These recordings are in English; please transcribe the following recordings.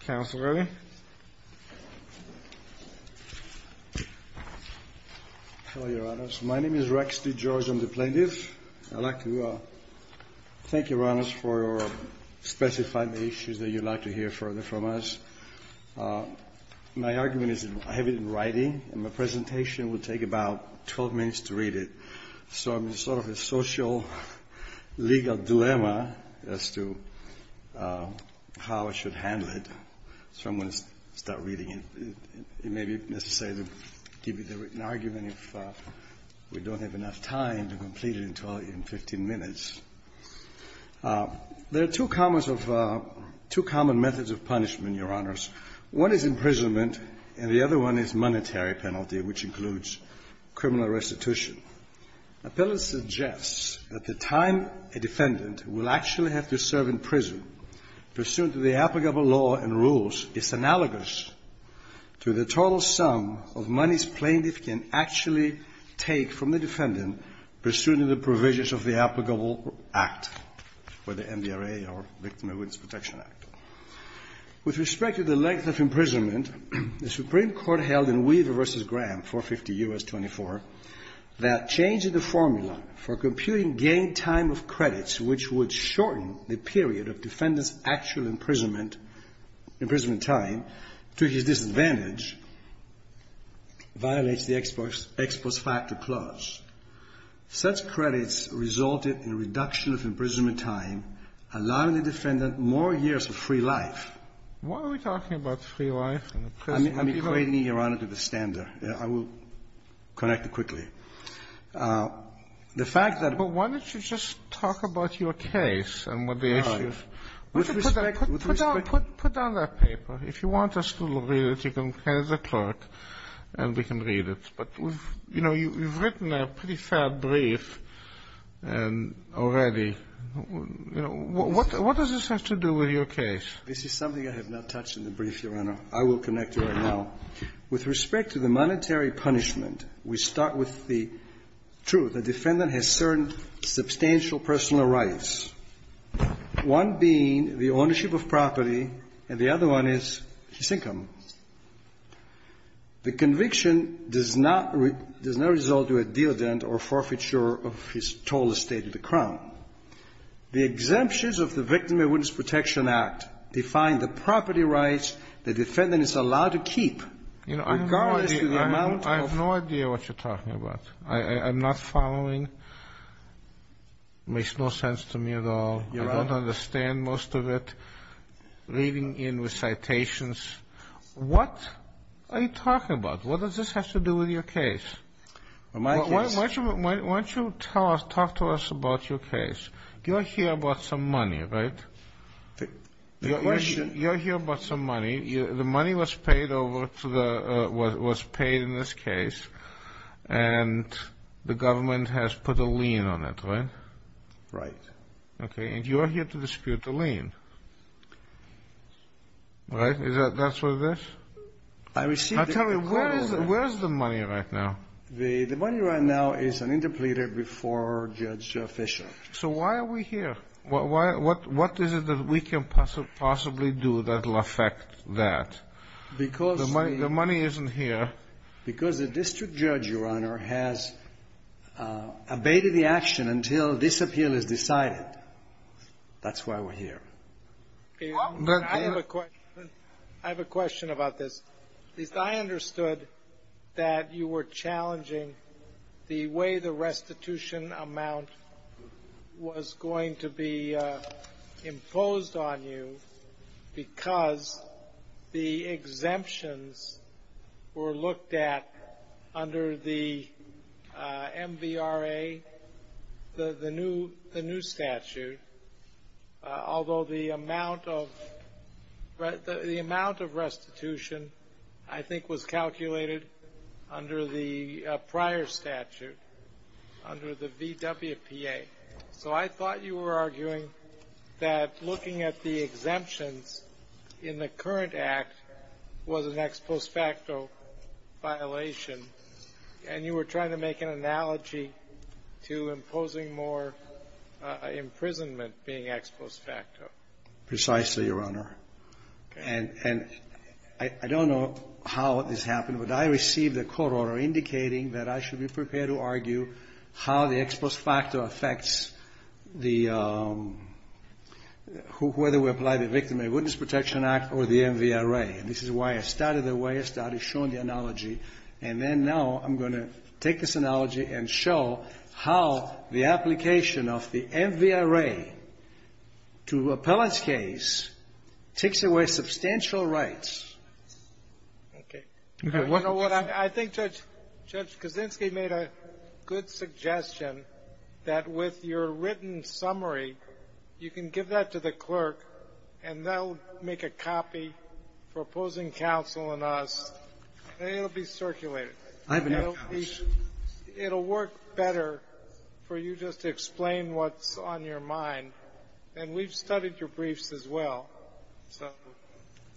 Counsel ready? Hello, Your Honors. My name is Rex D. George. I'm the plaintiff. I'd like to thank Your Honors for specifying the issues that you'd like to hear further from us. My argument is I have it in writing, and my presentation will take about 12 minutes to read it. So it's sort of a social-legal dilemma as to how I should handle it. So I'm going to start reading it. It may be necessary to give you the written argument if we don't have enough time to complete it in 15 minutes. There are two common methods of punishment, Your Honors. One is imprisonment, and the other one is monetary penalty, which includes criminal restitution. A penalty suggests that the time a defendant will actually have to serve in prison, pursuant to the applicable law and rules, is analogous to the total sum of money a plaintiff can actually take from the defendant, pursuant to the provisions of the applicable act, whether MDRA or Victim of Witness Protection Act. With respect to the length of imprisonment, the Supreme Court held in Weaver v. Graham 450 U.S. 24 that changing the formula for computing gain time of credits, which would shorten the period of defendant's actual imprisonment time to his disadvantage, violates the Exposed Factor Clause. Such credits resulted in a reduction of imprisonment time, allowing the defendant more years of free life. Why are we talking about free life in a prison? I'm equating it, Your Honor, to the standard. I will connect it quickly. The fact that... But why don't you just talk about your case and what the issues... All right. With respect... Put down that paper. If you want us to read it, you can hand it to the clerk and we can read it. But, you know, you've written a pretty fair brief already. What does this have to do with your case? This is something I have not touched in the brief, Your Honor. I will connect to it now. With respect to the monetary punishment, we start with the truth. The defendant has certain substantial personal rights, one being the ownership of property, and the other one is his income. The conviction does not result to a deal-dent or forfeiture of his total estate of the crown. The exemptions of the Victim of Witness Protection Act define the property rights the defendant is allowed to keep. Regardless of the amount of... I have no idea what you're talking about. I'm not following. It makes no sense to me at all. I don't understand most of it. Reading in recitations, what are you talking about? What does this have to do with your case? My case? Why don't you talk to us about your case? You're here about some money, right? The question... You're here about some money. The money was paid in this case, and the government has put a lien on it, right? Right. Okay. And you're here to dispute the lien, right? That's what it is? I received... Now, tell me, where is the money right now? The money right now is an interpleader before Judge Fisher. So why are we here? What is it that we can possibly do that will affect that? Because the... The money isn't here. Because the district judge, Your Honor, has abated the action until this appeal is decided. That's why we're here. I have a question. I have a question about this. At least I understood that you were challenging the way the restitution amount was going to be imposed on you because the exemptions were looked at under the MVRA, the new statute, although the amount of restitution, I think, was calculated under the prior statute, under the VWPA. So I thought you were arguing that looking at the exemptions in the current act was an ex post facto violation, and you were trying to make an analogy to imposing more imprisonment being ex post facto. Precisely, Your Honor. And I don't know how this happened, but I received a court order indicating that I should be prepared to argue how the ex post facto affects the... whether we apply the Victim and Witness Protection Act or the MVRA. And this is why I started the way I started, showing the analogy. And then now I'm going to take this analogy and show how the application of the MVRA to appellant's case takes away substantial rights. Okay. I think Judge Kaczynski made a good suggestion that with your written summary, you can give that to the clerk, and they'll make a copy for opposing counsel and us, and it'll be circulated. I have no doubt. It'll work better for you just to explain what's on your mind. And we've studied your briefs as well.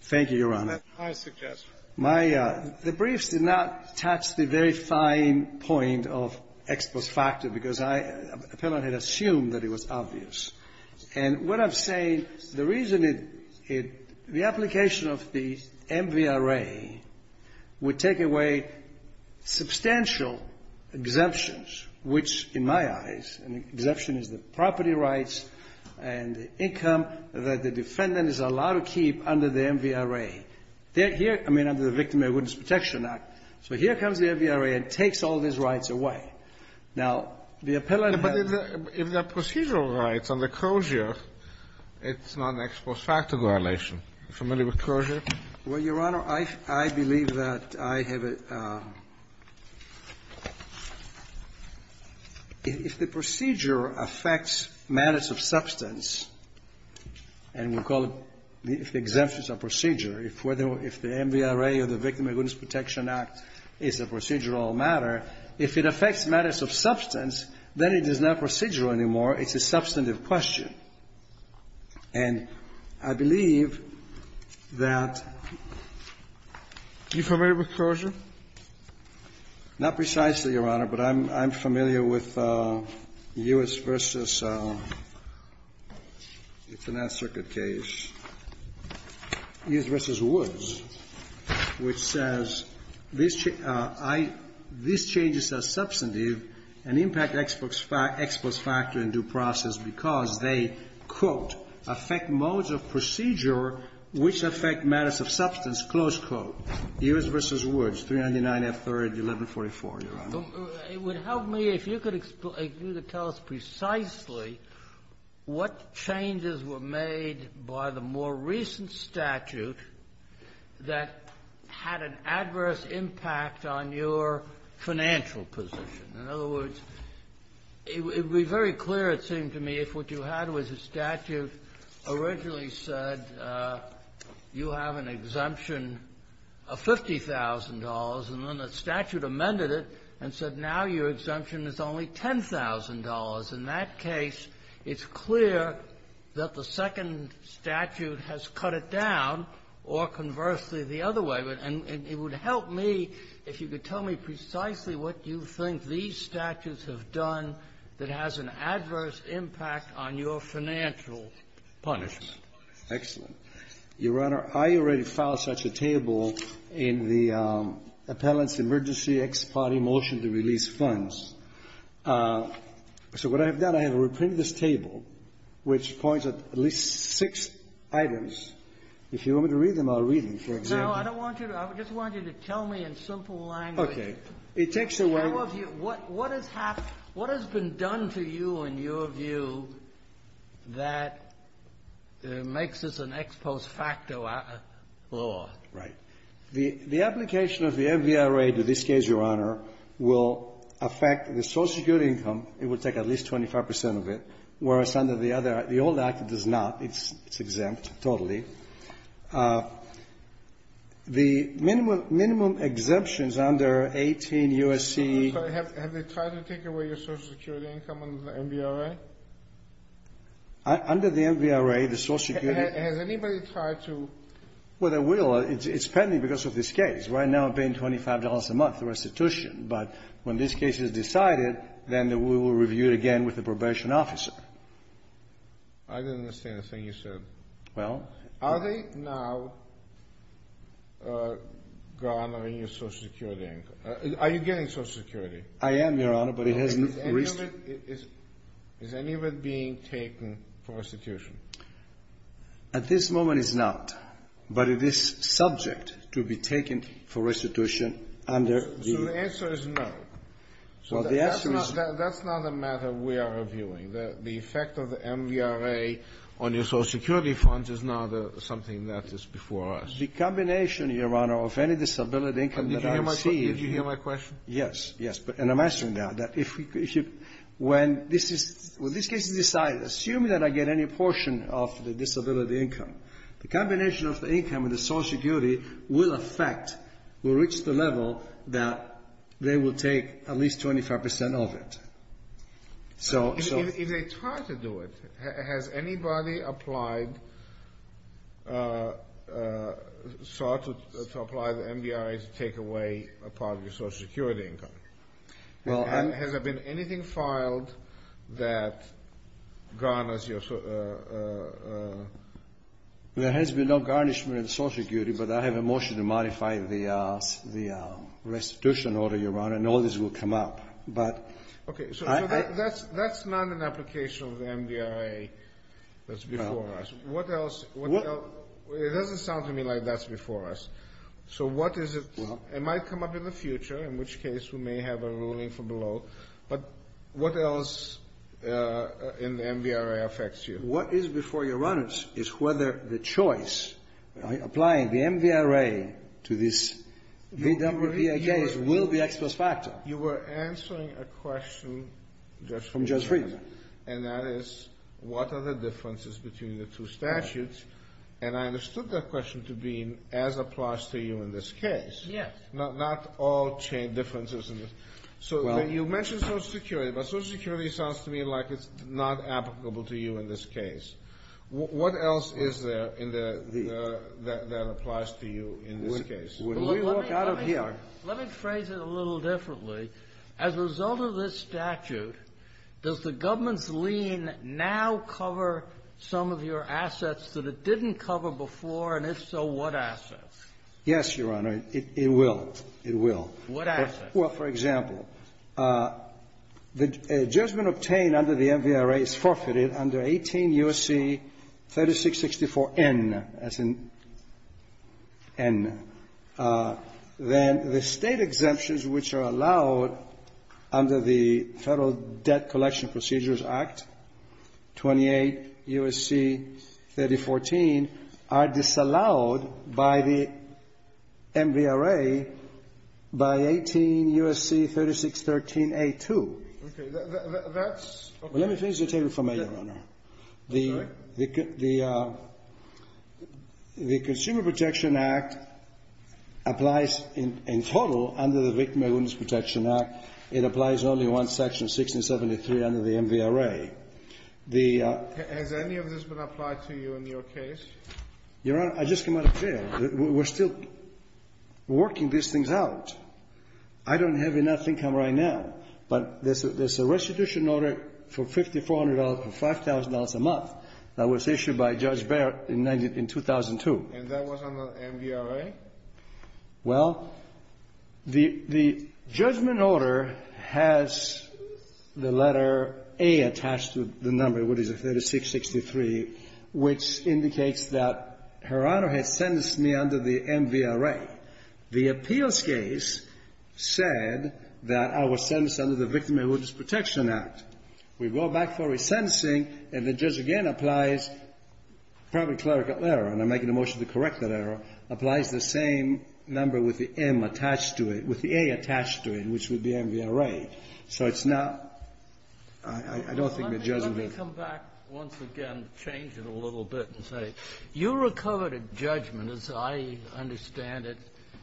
Thank you, Your Honor. That's my suggestion. The briefs did not touch the very fine point of ex post facto because I, appellant, had assumed that it was obvious. And what I'm saying, the reason it, the application of the MVRA would take away substantial exemptions, which in my eyes, an exemption is the property rights and the income that the defendant is allowed to keep under the MVRA. They're here, I mean, under the Victim of Arrogance Protection Act. So here comes the MVRA and takes all these rights away. Now, the appellant has to be able to keep them. But if they're procedural rights under Kroger, it's not an ex post facto violation. Are you familiar with Kroger? Well, Your Honor, I believe that I have a – if the procedure affects matters of substance, and we call it – if the exemption is a procedure, if the MVRA or the Victim of Arrogance Protection Act is a procedural matter, if it affects matters of substance, then it is not procedural anymore. It's a substantive question. And I believe that – are you familiar with Kroger? Not precisely, Your Honor, but I'm familiar with U.S. versus – it's an Nth Circuit case. U.S. v. Woods, which says, these changes are substantive and impact ex post facto in due process because they, quote, affect modes of procedure which affect matters of substance, close quote. U.S. v. Woods, 399 F. 3rd, 1144, Your Honor. It would help me if you could explain – if you could tell us precisely what changes were made by the more recent statute that had an adverse impact on your financial position. In other words, it would be very clear, it seemed to me, if what you had was a statute originally said you have an exemption of $50,000, and then the statute amended it and said now your exemption is only $10,000. In that case, it's clear that the second statute has cut it down, or conversely, the other way. And it would help me if you could tell me precisely what you think these statutes have done that has an adverse impact on your financial punishment. Excellent. Your Honor, I already filed such a table in the appellant's emergency ex parte motion to release funds. So what I have done, I have reprinted this table, which points at at least six items. If you want me to read them, I'll read them, for example. No, I don't want you to. I just want you to tell me in simple language. Okay. It takes away – What has been done to you, in your view, that makes this an ex post facto law? Right. The application of the MVRA to this case, Your Honor, will affect the Social Security income. It will take at least 25 percent of it, whereas under the other, the old act, it does not. It's exempt, totally. The minimum exemptions under 18 U.S.C. Have they tried to take away your Social Security income under the MVRA? Under the MVRA, the Social Security – Has anybody tried to – Well, they will. It's pending because of this case. Right now, I'm paying $25 a month restitution. But when this case is decided, then we will review it again with the probation officer. I didn't understand a thing you said. Well – Are they now garnering your Social Security income? Are you getting Social Security? I am, Your Honor, but it hasn't – Is any of it being taken for restitution? At this moment, it's not. But it is subject to be taken for restitution under the – So the answer is no. Well, the answer is – That's not a matter we are reviewing. The effect of the MVRA on your Social Security funds is not something that is before us. The combination, Your Honor, of any disability income that I receive – Did you hear my question? Yes. Yes. And I'm asking now that if we – when this is – when this case is decided, assume that I get any portion of the disability income. The combination of the income and the Social Security will affect – will reach the level that they will take at least 25 percent of it. So – If they try to do it, has anybody applied – sought to apply the MVRA to take away a part of your Social Security income? Well – Has there been anything filed that garners your – There has been no garnishment in Social Security, but I have a motion to modify the restitution order, Your Honor, and all this will come up. But – Okay. So that's not an application of the MVRA that's before us. Well – What else – it doesn't sound to me like that's before us. So what is it – Well – It might come up in the future, in which case we may have a ruling from below. But what else in the MVRA affects you? What is before you, Your Honor, is whether the choice – applying the MVRA to this number of VAJs will be X plus factor. You were answering a question just from – From Judge Friedman. And that is, what are the differences between the two statutes? And I understood that question to be as applies to you in this case. Yes. Not all differences in this – Well – So you mentioned Social Security, but Social Security sounds to me like it's not applicable to you in this case. What else is there in the – that applies to you in this case? When we walk out of here – Let me phrase it a little differently. As a result of this statute, does the government's lien now cover some of your assets that it didn't cover before, and if so, what assets? Yes, Your Honor. It will. It will. What assets? Well, for example, the judgment obtained under the MVRA is forfeited under 18 U.S.C. 3664N, as in N. Then the State exemptions which are allowed under the Federal Debt Collection Procedures Act, 28 U.S.C. 3014, are disallowed by the MVRA by 18 U.S.C. 3613A2. Okay. That's – Well, let me finish the table for me, Your Honor. Sorry? The Consumer Protection Act applies in total under the Victim of Illness Protection Act. It applies only in Section 1673 under the MVRA. The – Has any of this been applied to you in your case? Your Honor, I just came out of jail. We're still working these things out. I don't have enough income right now, but there's a restitution order for $5,400 for $5,000 a month that was issued by Judge Barrett in 2002. And that was under MVRA? Well, the judgment order has the letter A attached to the number, what is it, 3663, which indicates that Her Honor has sentenced me under the MVRA. The appeals case said that I was sentenced under the Victim of Illness Protection Act. We go back for a sentencing, and the judge again applies – probably clerical error, and I'm making a motion to correct that error – applies the same number with the M attached to it, with the A attached to it, which would be MVRA. So it's not – I don't think the judge would agree. Let me come back once again to change it a little bit and say, you recovered a judgment, as I understand it,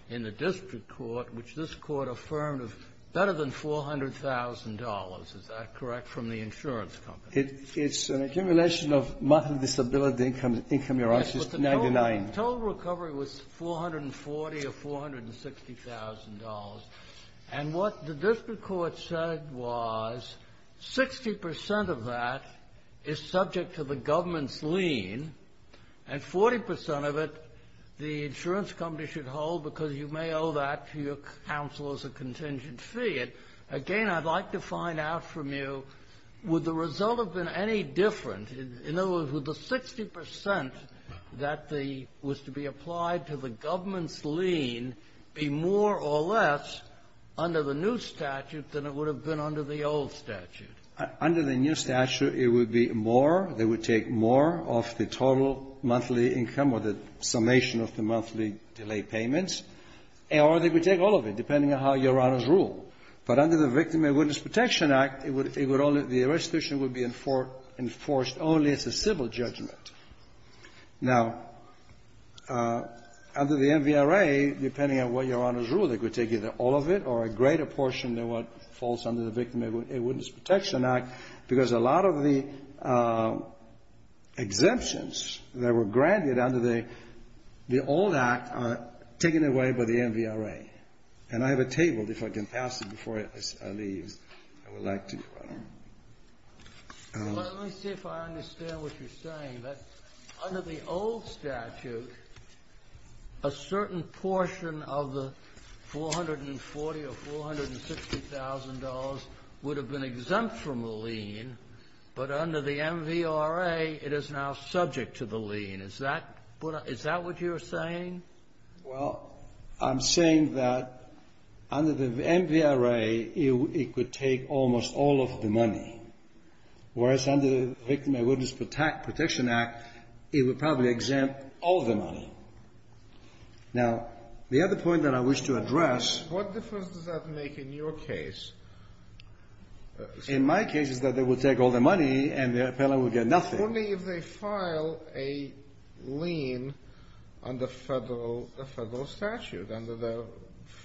in the district court, which this court affirmed of better than $400,000, is that correct, from the insurance company? It's an accumulation of mental disability income, Your Honor, which is 99. Yes, but the total recovery was $440,000 or $460,000. And what the district court said was 60 percent of that is subject to the government's lien, and 40 percent of it the insurance company should hold because you may owe that to your counsel as a contingent fee. And, again, I'd like to find out from you, would the result have been any different? In other words, would the 60 percent that the – was to be under the new statute than it would have been under the old statute? Under the new statute, it would be more, they would take more of the total monthly income or the summation of the monthly delay payments, or they would take all of it, depending on how Your Honor's rule. But under the Victim and Witness Protection Act, it would only – the restitution would be enforced only as a civil judgment. Now, under the MVRA, depending on what Your Honor's rule, they could take either all of it or a greater portion than what falls under the Victim and Witness Protection Act because a lot of the exemptions that were granted under the old act are taken away by the MVRA. And I have a table. If I can pass it before it leaves, I would like to. Well, let me see if I understand what you're saying, that under the old statute, a certain portion of the $440,000 or $460,000 would have been exempt from the lien, but under the MVRA, it is now subject to the lien. Is that what you're saying? Well, I'm saying that under the MVRA, it would take almost all of the money, whereas under the Victim and Witness Protection Act, it would probably exempt all the money. Now, the other point that I wish to address What difference does that make in your case? In my case, it's that they would take all the money and the appellant would get nothing. Only if they file a lien under federal statute, under the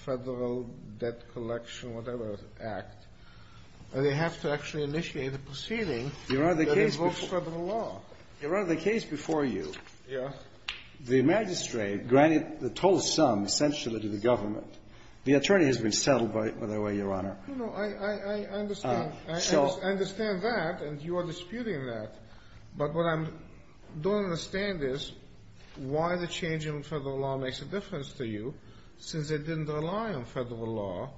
Federal Debt Collection whatever Act, they have to actually initiate a proceeding that invokes federal law. Your Honor, the case before you Yes The magistrate granted the total sum essentially to the government. The attorney has been settled by that way, Your Honor. No, no. I understand. So I understand that, and you are disputing that. But what I don't understand is why the change in federal law makes a difference to you, since they didn't rely on federal law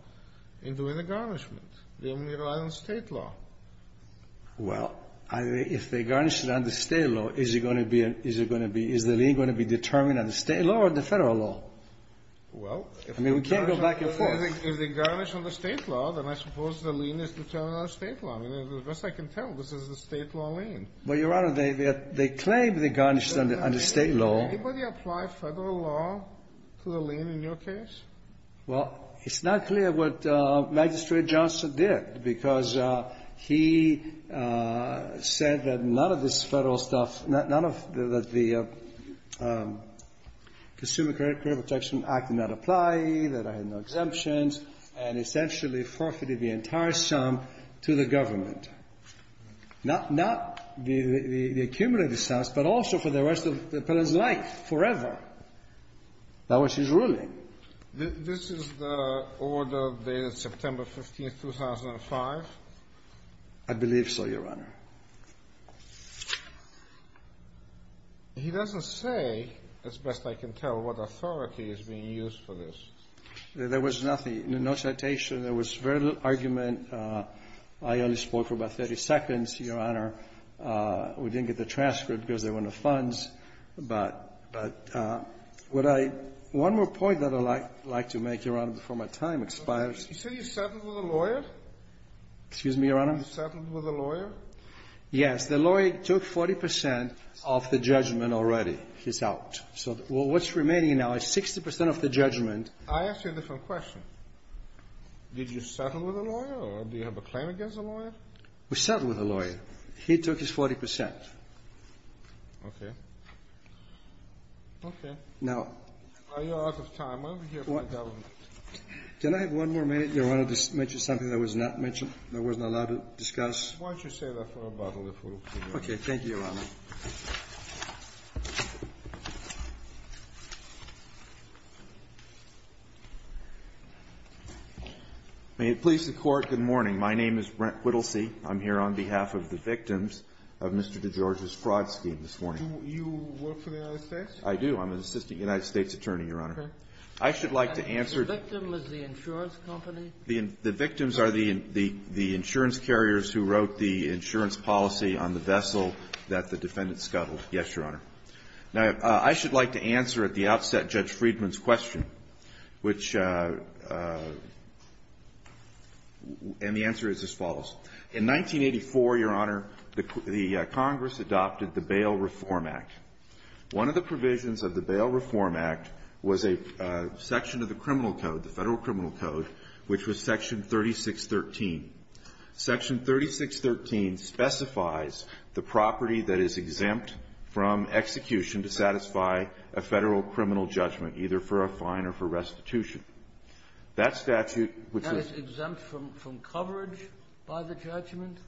in doing the garnishment. They only relied on State law. Well, if they garnished it under State law, is it going to be an Is it going to be Is the lien going to be determined under State law or under Federal law? Well, if I mean, we can't go back and forth. If they garnish under State law, then I suppose the lien is determined under State law. I mean, as best I can tell, this is a State law lien. Well, Your Honor, they claim they garnished it under State law. Can anybody apply Federal law to the lien in your case? Well, it's not clear what Magistrate Johnson did, because he said that none of this Federal stuff, none of the Consumer Credit Protection Act did not apply, that I had no exemptions, and essentially forfeited the entire sum to the government. Not the accumulated sums, but also for the rest of the appellant's life, forever. That was his ruling. This is the order dated September 15th, 2005? I believe so, Your Honor. He doesn't say, as best I can tell, what authority is being used for this. There was nothing. No citation. There was very little argument. I only spoke for about 30 seconds, Your Honor. We didn't get the transcript because there were no funds. But what I one more point that I'd like to make, Your Honor, before my time expires. You said you settled with a lawyer? Excuse me, Your Honor? You settled with a lawyer? Yes. The lawyer took 40 percent of the judgment already. He's out. So what's remaining now is 60 percent of the judgment. I ask you a different question. Did you settle with a lawyer or do you have a claim against a lawyer? We settled with a lawyer. He took his 40 percent. Okay. Now. Are you out of time? Why don't we hear from the government? Can I have one more minute, Your Honor, to mention something that was not mentioned and I wasn't allowed to discuss? Why don't you save that for a bottle if we'll figure it out? Okay. Thank you, Your Honor. May it please the Court, good morning. My name is Brent Whittlesey. I'm here on behalf of the victims of Mr. DeGeorge's fraud scheme this morning. Do you work for the United States? I do. I'm an assistant United States attorney, Your Honor. Okay. I should like to answer the ---- The victim was the insurance company? The victims are the insurance carriers who wrote the insurance policy on the vessel that the defendant scuttled. Yes, Your Honor. Now, I should like to answer at the outset Judge Friedman's question, which ---- and the answer is as follows. In 1984, Your Honor, the Congress adopted the Bail Reform Act. One of the provisions of the Bail Reform Act was a section of the criminal code, the Federal Criminal Code, which was Section 3613. Section 3613 specifies the property that is exempt from execution to satisfy a Federal criminal judgment, either for a fine or for restitution. That statute, which was ---- Exempt from coverage by the judgment?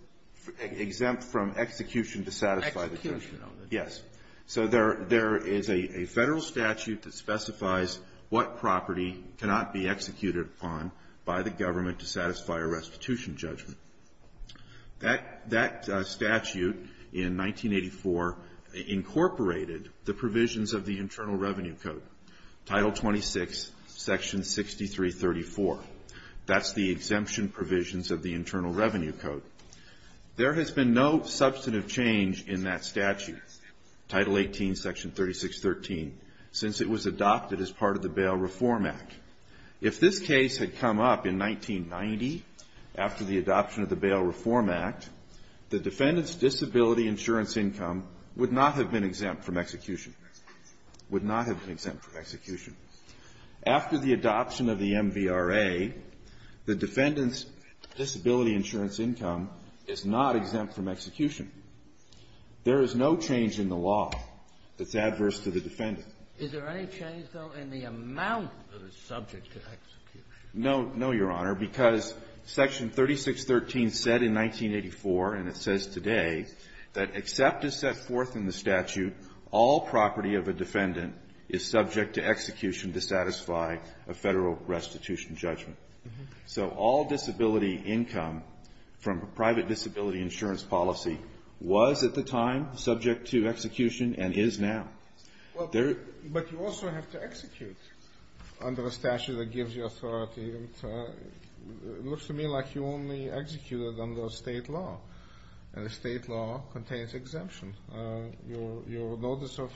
Exempt from execution to satisfy the judgment. Execution of the judgment. Yes. So there is a Federal statute that specifies what property cannot be executed upon by the government to satisfy a restitution judgment. That statute in 1984 incorporated the provisions of the Internal Revenue Code, Title 26, Section 6334. That's the exemption provisions of the Internal Revenue Code. There has been no substantive change in that statute, Title 18, Section 3613, since it was adopted as part of the Bail Reform Act. If this case had come up in 1990, after the adoption of the Bail Reform Act, the defendant's disability insurance income would not have been exempt from execution. Would not have been exempt from execution. After the adoption of the MVRA, the defendant's disability insurance income is not exempt from execution. There is no change in the law that's adverse to the defendant. Is there any change, though, in the amount that is subject to execution? No. No, Your Honor, because Section 3613 said in 1984, and it says today, that except as set forth in the statute, all property of a defendant is subject to execution to satisfy a Federal restitution judgment. So all disability income from private disability insurance policy was at the time subject to execution and is now. But you also have to execute under a statute that gives you authority. It looks to me like you only execute it under State law, and the State law contains an exemption. Your notice of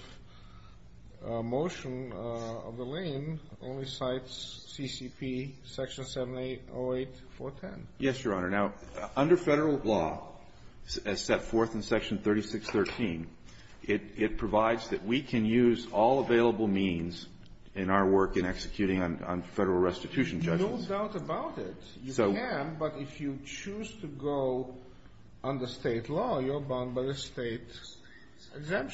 motion of the lane only cites CCP Section 7808.410. Yes, Your Honor. Now, under Federal law, as set forth in Section 3613, it provides that we can use all available means in our work in executing on Federal restitution judgments. No doubt about it. You can, but if you choose to go under State law, you're bound by the State law. I don't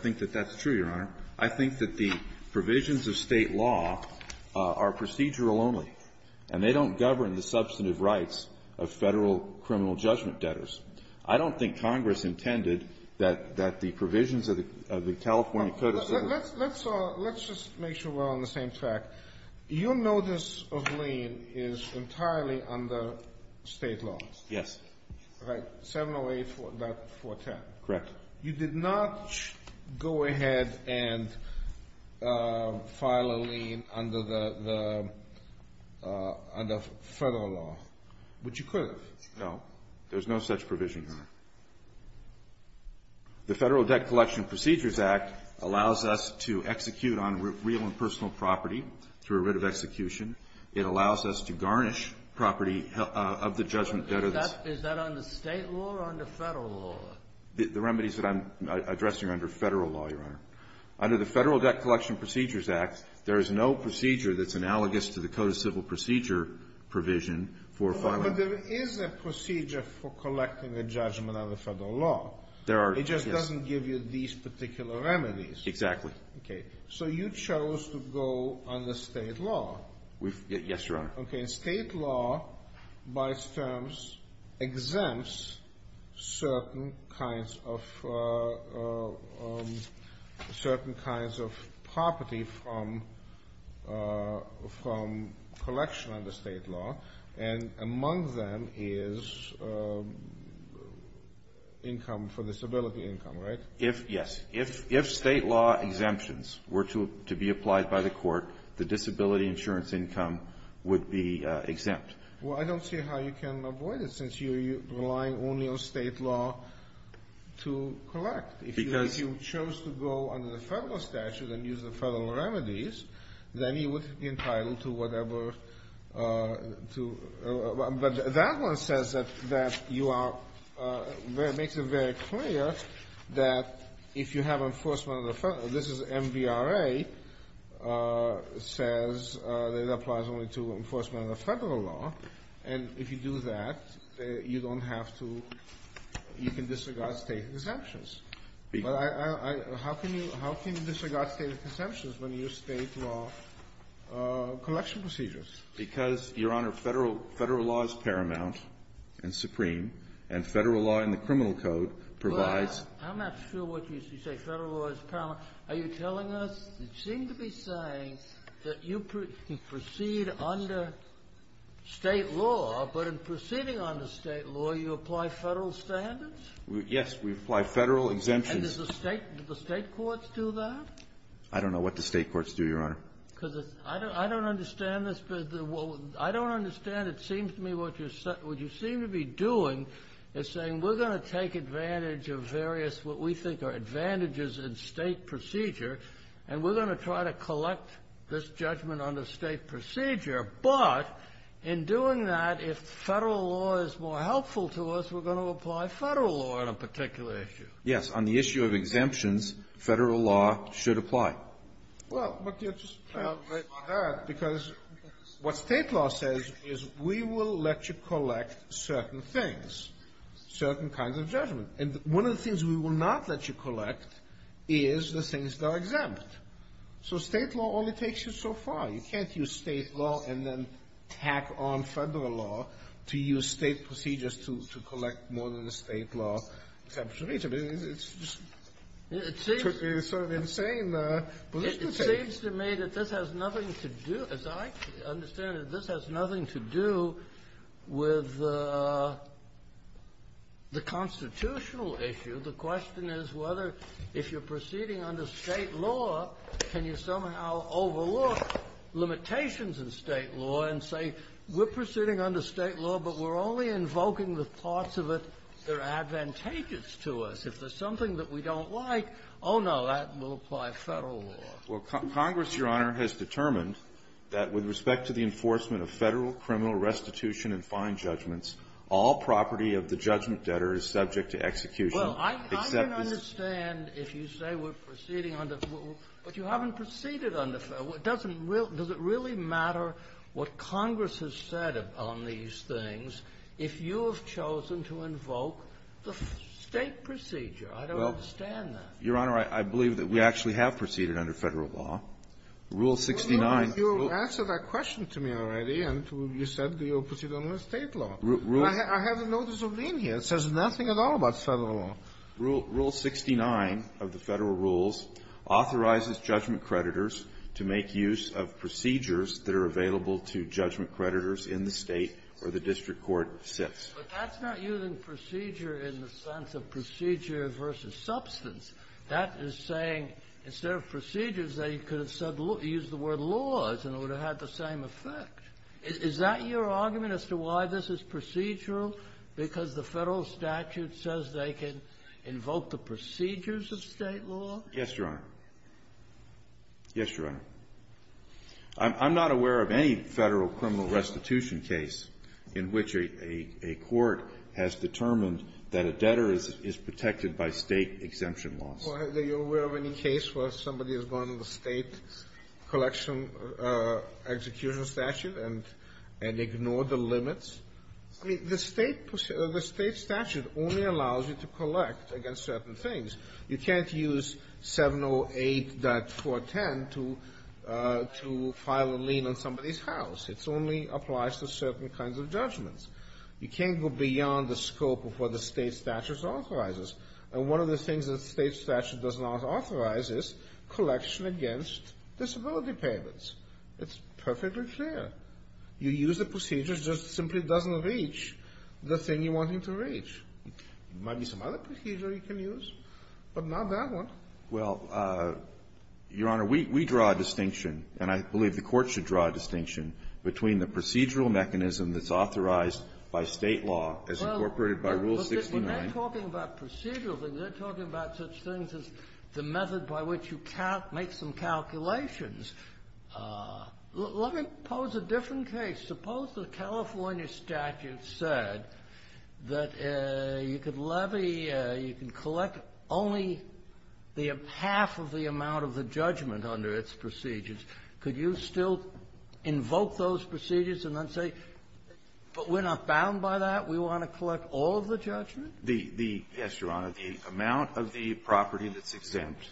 think that that's true, Your Honor. I think that the provisions of State law are procedural only, and they don't govern the substantive rights of Federal criminal judgment debtors. I don't think Congress intended that the provisions of the California Code of Civil Let's just make sure we're on the same page here. We're on the same track. Your notice of lane is entirely under State law. Yes. 708.410. Correct. You did not go ahead and file a lane under the Federal law, which you could have. No. There's no such provision, Your Honor. The Federal Debt Collection Procedures Act allows us to execute on real and personal property through a writ of execution. It allows us to garnish property of the judgment debtors. Is that under State law or under Federal law? The remedies that I'm addressing are under Federal law, Your Honor. Under the Federal Debt Collection Procedures Act, there is no procedure that's analogous to the Code of Civil Procedure provision for filing. But there is a procedure for collecting a judgment under Federal law. There are. It just doesn't give you these particular remedies. Exactly. Okay. So you chose to go under State law. Yes, Your Honor. Okay. State law, by its terms, exempts certain kinds of property from collection under State law. And among them is income for disability income, right? Yes. If State law exemptions were to be applied by the court, the disability insurance income would be exempt. Well, I don't see how you can avoid it since you're relying only on State law to collect. Because you chose to go under the Federal statute and use the Federal remedies, then you would be entitled to whatever to – but that one says that you are – makes it very clear that if you have enforcement under Federal – this is MVRA – says that it applies only to enforcement under Federal law, and if you do that, you don't have to – you can disregard State exemptions. But I – how can you – how can you disregard State exemptions when your State law collection procedures? Because, Your Honor, Federal law is paramount and supreme, and Federal law in the criminal code provides – Well, I'm not sure what you say. Federal law is paramount. Are you telling us – you seem to be saying that you proceed under State law, but in proceeding under State law, you apply Federal standards? Yes. We apply Federal exemptions. And does the State – do the State courts do that? I don't know what the State courts do, Your Honor. Because it's – I don't understand this. I don't understand. It seems to me what you're – what you seem to be doing is saying we're going to take advantage of various what we think are advantages in State procedure, and we're going to try to collect this judgment under State procedure. But in doing that, if Federal law is more helpful to us, we're going to apply Federal law on a particular issue. Yes. On the issue of exemptions, Federal law should apply. Well, but you're just right on that, because what State law says is we will let you collect certain things, certain kinds of judgment. And one of the things we will not let you collect is the things that are exempt. So State law only takes you so far. You can't use State law and then tack on Federal law to use State procedures to collect more than a State law exemption. It's just sort of insane. It seems to me that this has nothing to do – as I understand it, this has nothing to do with the constitutional issue. The question is whether, if you're proceeding under State law, can you somehow overlook limitations in State law and say we're proceeding under State law, but we're only invoking the parts of it that are advantageous to us. If there's something that we don't like, oh, no, that will apply Federal law. Well, Congress, Your Honor, has determined that with respect to the enforcement of Federal criminal restitution and fine judgments, all property of the judgment debtor is subject to execution except this one. Well, I can understand if you say we're proceeding under – but you haven't proceeded under – doesn't – does it really matter what Congress has said on these things if you have chosen to invoke the State procedure? I don't understand that. Well, Your Honor, I believe that we actually have proceeded under Federal law. Rule 69 – Well, you answered that question to me already, and you said you're proceeding under State law. Rules – I have a notice of lien here. It says nothing at all about Federal law. Rule 69 of the Federal rules authorizes judgment creditors to make use of procedures that are available to judgment creditors in the State or the district court sits. But that's not using procedure in the sense of procedure versus substance. That is saying instead of procedures, they could have said – used the word laws and it would have had the same effect. Is that your argument as to why this is procedural? Because the Federal statute says they can invoke the procedures of State law? Yes, Your Honor. Yes, Your Honor. I'm not aware of any Federal criminal restitution case in which a court has determined that a debtor is protected by State exemption laws. Well, are you aware of any case where somebody has gone to the State collection execution statute and – and ignored the limits? I mean, the State – the State statute only allows you to collect against certain things. You can't use 708.410 to – to file a lien on somebody's house. It only applies to certain kinds of judgments. You can't go beyond the scope of what the State statute authorizes. And one of the things that the State statute does not authorize is collection against disability payments. It's perfectly clear. You use the procedures. It just simply doesn't reach the thing you want it to reach. There might be some other procedure you can use, but not that one. Well, Your Honor, we – we draw a distinction, and I believe the Court should draw a distinction, between the procedural mechanism that's authorized by State law as incorporated by Rule 69. Well, but they're talking about procedural things. They're talking about such things as the method by which you can't make some calculations. Let me pose a different case. Suppose the California statute said that you could levy – you can collect only the half of the amount of the judgment under its procedures. Could you still invoke those procedures and then say, but we're not bound by that? We want to collect all of the judgment? The – the – yes, Your Honor. The amount of the property that's exempt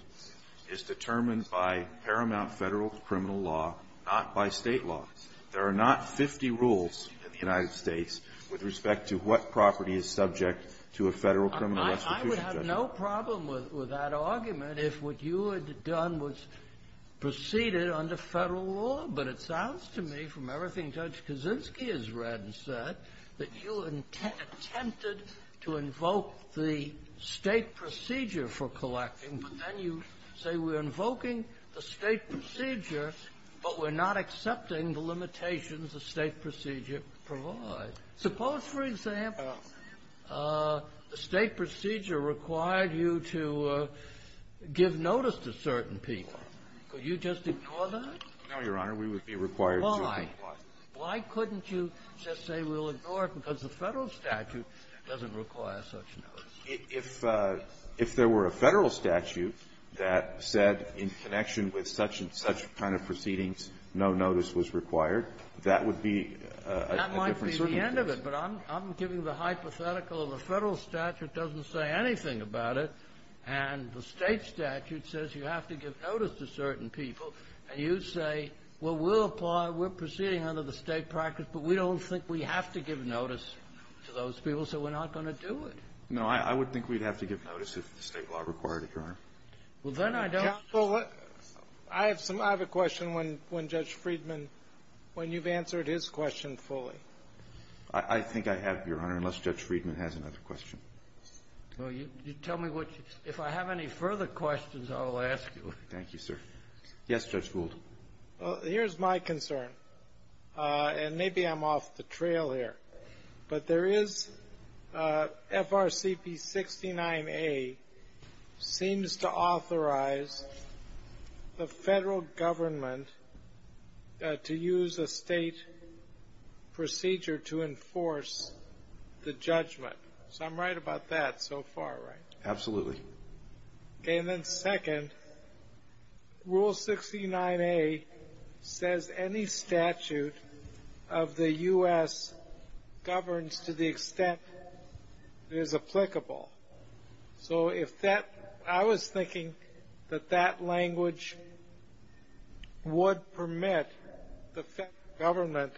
is determined by paramount Federal criminal law, not by State law. There are not 50 rules in the United States with respect to what property is subject to a Federal criminal restitution judgment. I would have no problem with that argument if what you had done was proceeded under Federal law. But it sounds to me, from everything Judge Kaczynski has read and said, that you attempted to invoke the State procedure for collecting, but then you say we're invoking the State procedure, but we're not accepting the limitations the State procedure provides. Suppose, for example, the State procedure required you to give notice to certain people. Could you just ignore that? No, Your Honor. We would be required to do that. Why? Why couldn't you just say we'll ignore it because the Federal statute doesn't require such notice? If – if there were a Federal statute that said in connection with such and such kind of proceedings, no notice was required, that would be a different circumstance. That would be the end of it, but I'm – I'm giving the hypothetical of the Federal statute doesn't say anything about it, and the State statute says you have to give notice to certain people, and you say, well, we'll apply, we're proceeding under the State practice, but we don't think we have to give notice to those people, so we're not going to do it. No. I would think we'd have to give notice if the State law required it, Your Honor. Well, then I don't – Well, I have some – I have a question when – when Judge Friedman, when you've answered his question fully. I think I have, Your Honor, unless Judge Friedman has another question. Well, you – you tell me what – if I have any further questions, I'll ask you. Thank you, sir. Yes, Judge Gould. Well, here's my concern, and maybe I'm off the trail here, but there is – FRCP 69A seems to authorize the Federal government to use a State procedure to enforce the judgment, so I'm right about that so far, right? Absolutely. Okay, and then second, Rule 69A says any statute of the U.S. governs to the extent it is applicable. So if that – I was thinking that that language would permit the Federal government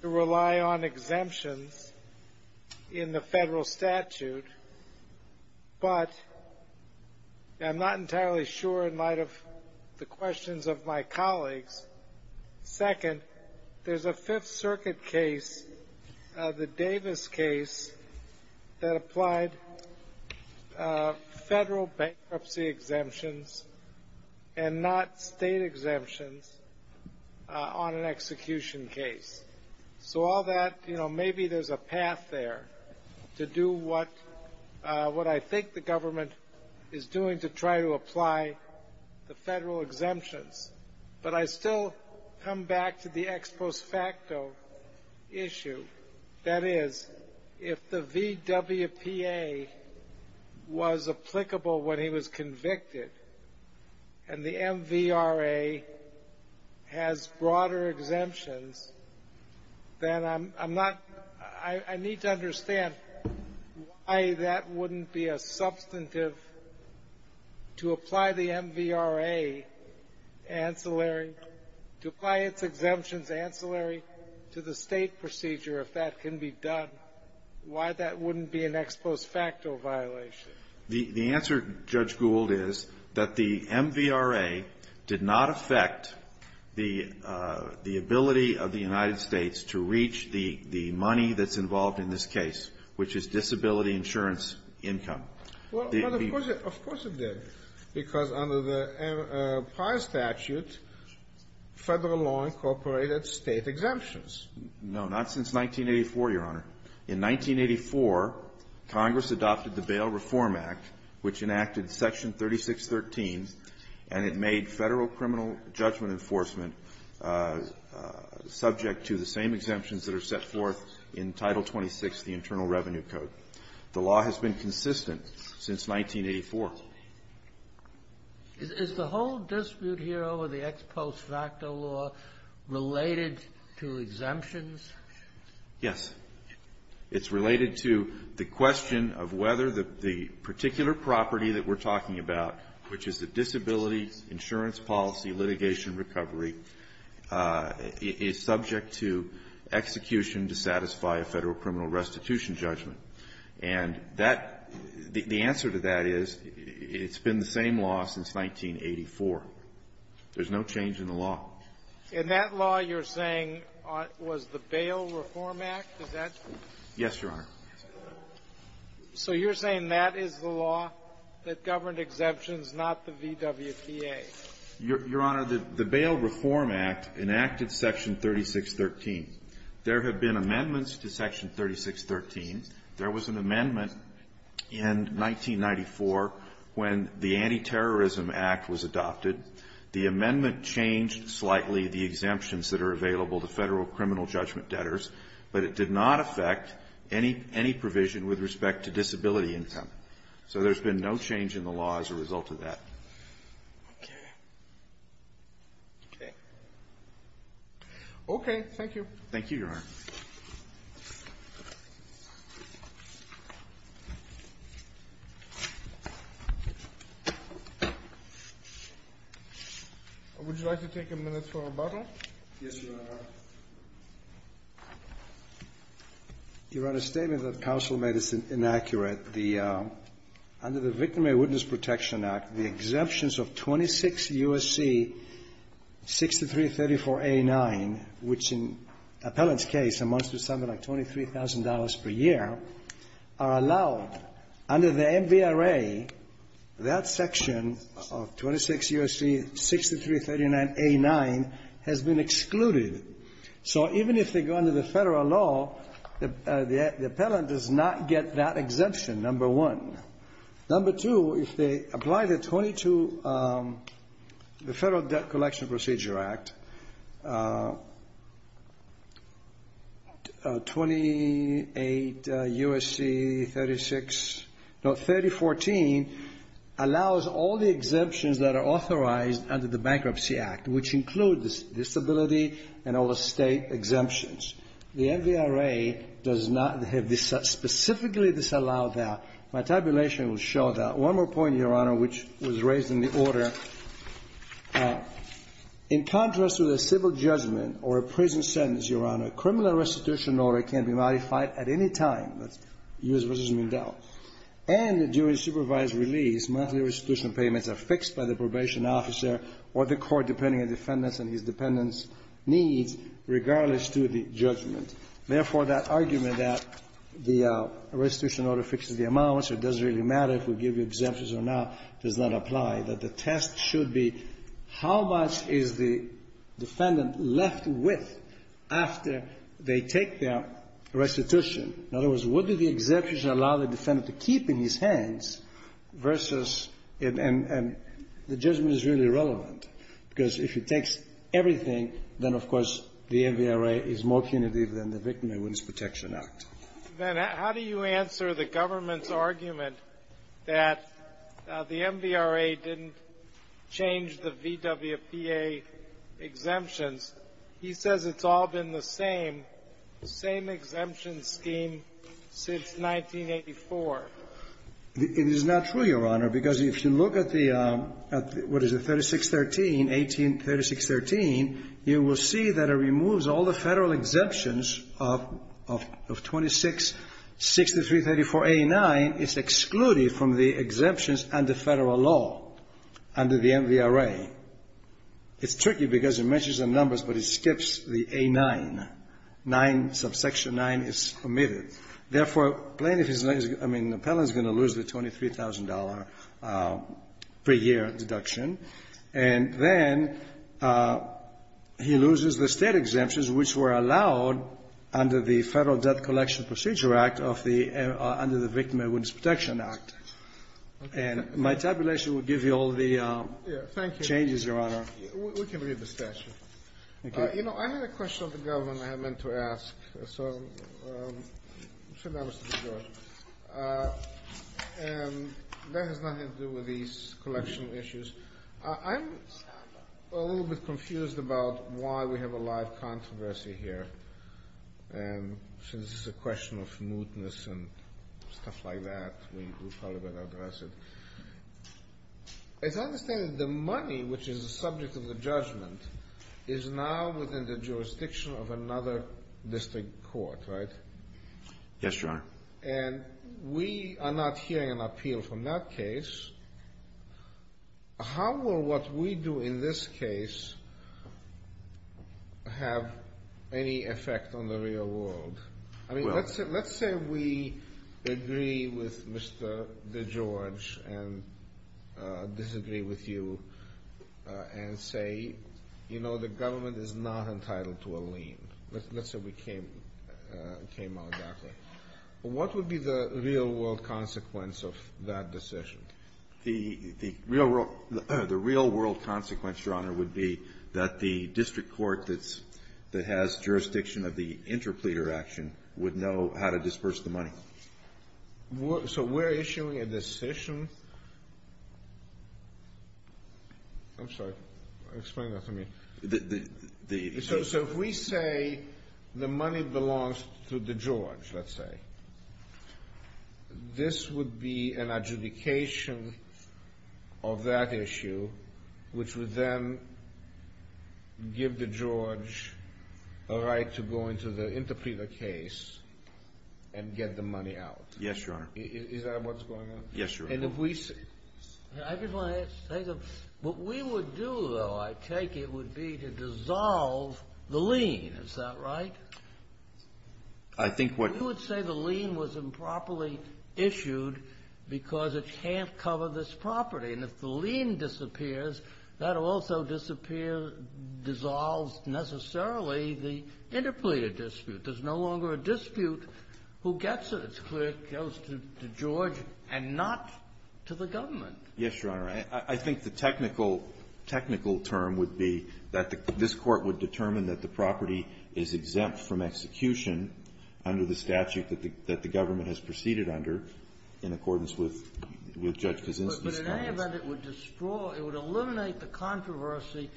to rely on exemptions in the Federal statute, but I'm not entirely sure in light of the questions of my colleagues. Second, there's a Fifth Circuit case, the Davis case, that applied Federal bankruptcy exemptions and not State exemptions on an execution case. So all that – you know, maybe there's a path there to do what – what I think the We'll come back to the ex post facto issue. That is, if the VWPA was applicable when he was convicted, and the MVRA has broader exemptions, then I'm not – I need to understand why that wouldn't be a substantive to apply the MVRA ancillary – to apply its exemptions ancillary to the State procedure if that can be done. Why that wouldn't be an ex post facto violation? The answer, Judge Gould, is that the MVRA did not affect the ability of the United States to reach the money that's involved in this case, which is disability insurance income. Well, of course it – of course it did, because under the prior statute, Federal law incorporated State exemptions. No, not since 1984, Your Honor. In 1984, Congress adopted the Bail Reform Act, which enacted Section 3613, and it made Federal criminal judgment enforcement subject to the same exemptions that are set forth in Title 26, the Internal Revenue Code. The law has been consistent since 1984. Is the whole dispute here over the ex post facto law related to exemptions? Yes. It's related to the question of whether the particular property that we're talking about, which is the disability insurance policy litigation recovery, is subject to execution to satisfy a Federal criminal restitution judgment. And that – the answer to that is it's been the same law since 1984. There's no change in the law. And that law you're saying was the Bail Reform Act? Is that – Yes, Your Honor. So you're saying that is the law that governed exemptions, not the VWPA? Your Honor, the Bail Reform Act enacted Section 3613. There have been amendments to Section 3613. There was an amendment in 1994 when the Anti-Terrorism Act was adopted. The amendment changed slightly the exemptions that are available to Federal criminal judgment debtors, but it did not affect any provision with respect to disability income. So there's been no change in the law as a result of that. Okay. Okay. Okay. Thank you. Thank you, Your Honor. Would you like to take a minute for rebuttal? Yes, Your Honor. Your Honor, a statement that counsel made is inaccurate. The – under the Victim and Witness Protection Act, the exemptions of 26 U.S.C. 6334A9, which in appellant's case amounts to something like $23,000 per year, are allowed. Under the MVRA, that section of 26 U.S.C. 6339A9 has been excluded. So even if they go under the Federal law, the – the appellant does not get that exemption, number one. Number two, if they apply the 22 – the Federal Debt Collection Procedure Act, 28 U.S.C. 36 – no, 3014 allows all the exemptions that are authorized under the Bankruptcy Act, which includes disability and all the state exemptions. The MVRA does not have – specifically disallowed that. My tabulation will show that. One more point, Your Honor, which was raised in the order. In contrast to the civil judgment or a prison sentence, Your Honor, a criminal restitution order can be modified at any time. That's U.S. v. Mindell. And during supervised release, monthly restitution payments are fixed by the defendants and his dependents' needs, regardless to the judgment. Therefore, that argument that the restitution order fixes the amounts, it doesn't really matter if we give you exemptions or not, does not apply. That the test should be how much is the defendant left with after they take their restitution. In other words, what do the exemptions allow the defendant to keep in his hands versus – and the judgment is really relevant. Because if it takes everything, then, of course, the MVRA is more punitive than the Victim and Witness Protection Act. Then how do you answer the government's argument that the MVRA didn't change the VWPA exemptions? He says it's all been the same, same exemption scheme since 1984. It is not true, Your Honor. Because if you look at the, what is it, 3613, 183613, you will see that it removes all the federal exemptions of 266334A9. It's excluded from the exemptions under federal law, under the MVRA. It's tricky because it mentions the numbers, but it skips the A9. Nine, subsection nine is omitted. Therefore, plaintiff is going to lose the $23,000 per year deduction. And then he loses the state exemptions, which were allowed under the Federal Debt Collection Procedure Act of the – under the Victim and Witness Protection Act. And my tabulation will give you all the changes, Your Honor. Thank you. We can read the statute. Okay. I have a question of the government I meant to ask. So I'm sure that was to be good. And that has nothing to do with these collection issues. I'm a little bit confused about why we have a live controversy here. And since it's a question of mootness and stuff like that, we probably better address it. It's my understanding that the money, which is the subject of the judgment, is now within the jurisdiction of another district court, right? Yes, Your Honor. And we are not hearing an appeal from that case. How will what we do in this case have any effect on the real world? I mean, let's say we agree with Mr. DeGeorge and disagree with you and say, you know, the government is not entitled to a lien. Let's say we came out that way. What would be the real world consequence of that decision? The real world consequence, Your Honor, would be that the district court that has jurisdiction of the interpleader action would know how to disperse the money. So we're issuing a decision? I'm sorry. Explain that to me. So if we say the money belongs to DeGeorge, let's say, this would be an adjudication of that issue, which would then give DeGeorge a right to go into the interpleader case and get the money out. Yes, Your Honor. Is that what's going on? Yes, Your Honor. I just want to say that what we would do, though, I take it, would be to dissolve the lien. Is that right? I think what you would say the lien was improperly issued because it can't cover this property. And if the lien disappears, that also disappears, dissolves, necessarily, the interpleader dispute. There's no longer a dispute. Who gets it? It's clear it goes to DeGeorge and not to the government. Yes, Your Honor. I think the technical term would be that this Court would determine that the property is exempt from execution under the statute that the government has proceeded under in accordance with Judge Kaczynski's comments. But in any event, it would destroy, it would eliminate the controversy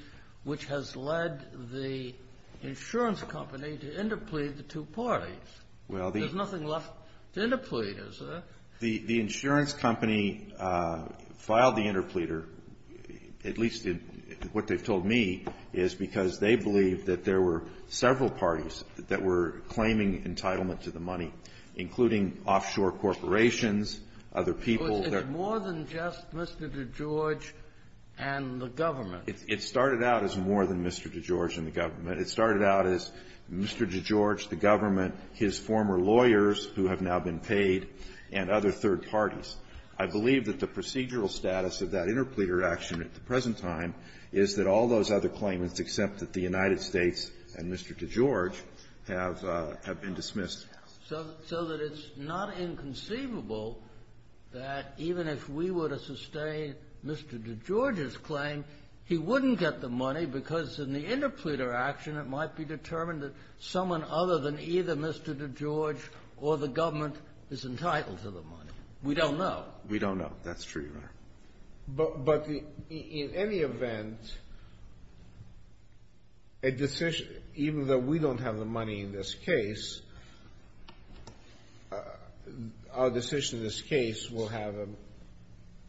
which has led the insurance company to interplead the two parties. There's nothing left to interplead, is there? The insurance company filed the interpleader, at least what they've told me, is because they believe that there were several parties that were claiming entitlement to the money, including offshore corporations, other people. But it's more than just Mr. DeGeorge and the government. It started out as more than Mr. DeGeorge and the government. It started out as Mr. DeGeorge, the government, his former lawyers who have now been paid, and other third parties. I believe that the procedural status of that interpleader action at the present time is that all those other claimants, except that the United States and Mr. DeGeorge, have been dismissed. So that it's not inconceivable that even if we were to sustain Mr. DeGeorge's claim, we wouldn't get the money because in the interpleader action, it might be determined that someone other than either Mr. DeGeorge or the government is entitled to the money. We don't know. We don't know. That's true, Your Honor. But in any event, a decision, even though we don't have the money in this case, our decision in this case will have an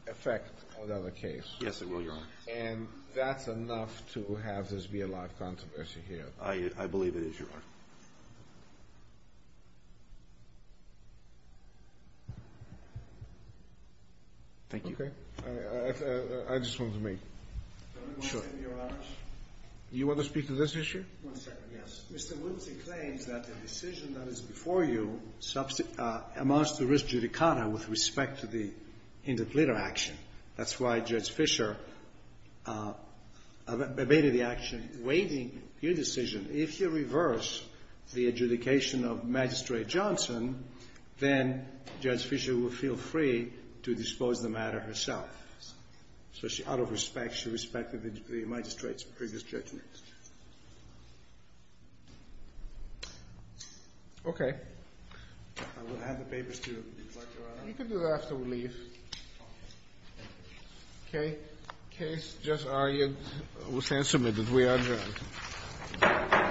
effect on the other case. Yes, it will, Your Honor. And that's enough to have this be a live controversy here. I believe it is, Your Honor. Thank you. Okay. I just wanted to make sure. Your Honor. You want to speak to this issue? One second, yes. Mr. Woodley claims that the decision that is before you amounts to risk judicata with respect to the interpleader action. That's why Judge Fischer abated the action waiting your decision. If you reverse the adjudication of Magistrate Johnson, then Judge Fischer will feel free to dispose the matter herself. So out of respect, she respected the magistrate's previous judgment. Okay. I will have the papers to reflect, Your Honor. You can do that after we leave. Okay. Case just argued. We'll stand submitted. We are adjourned.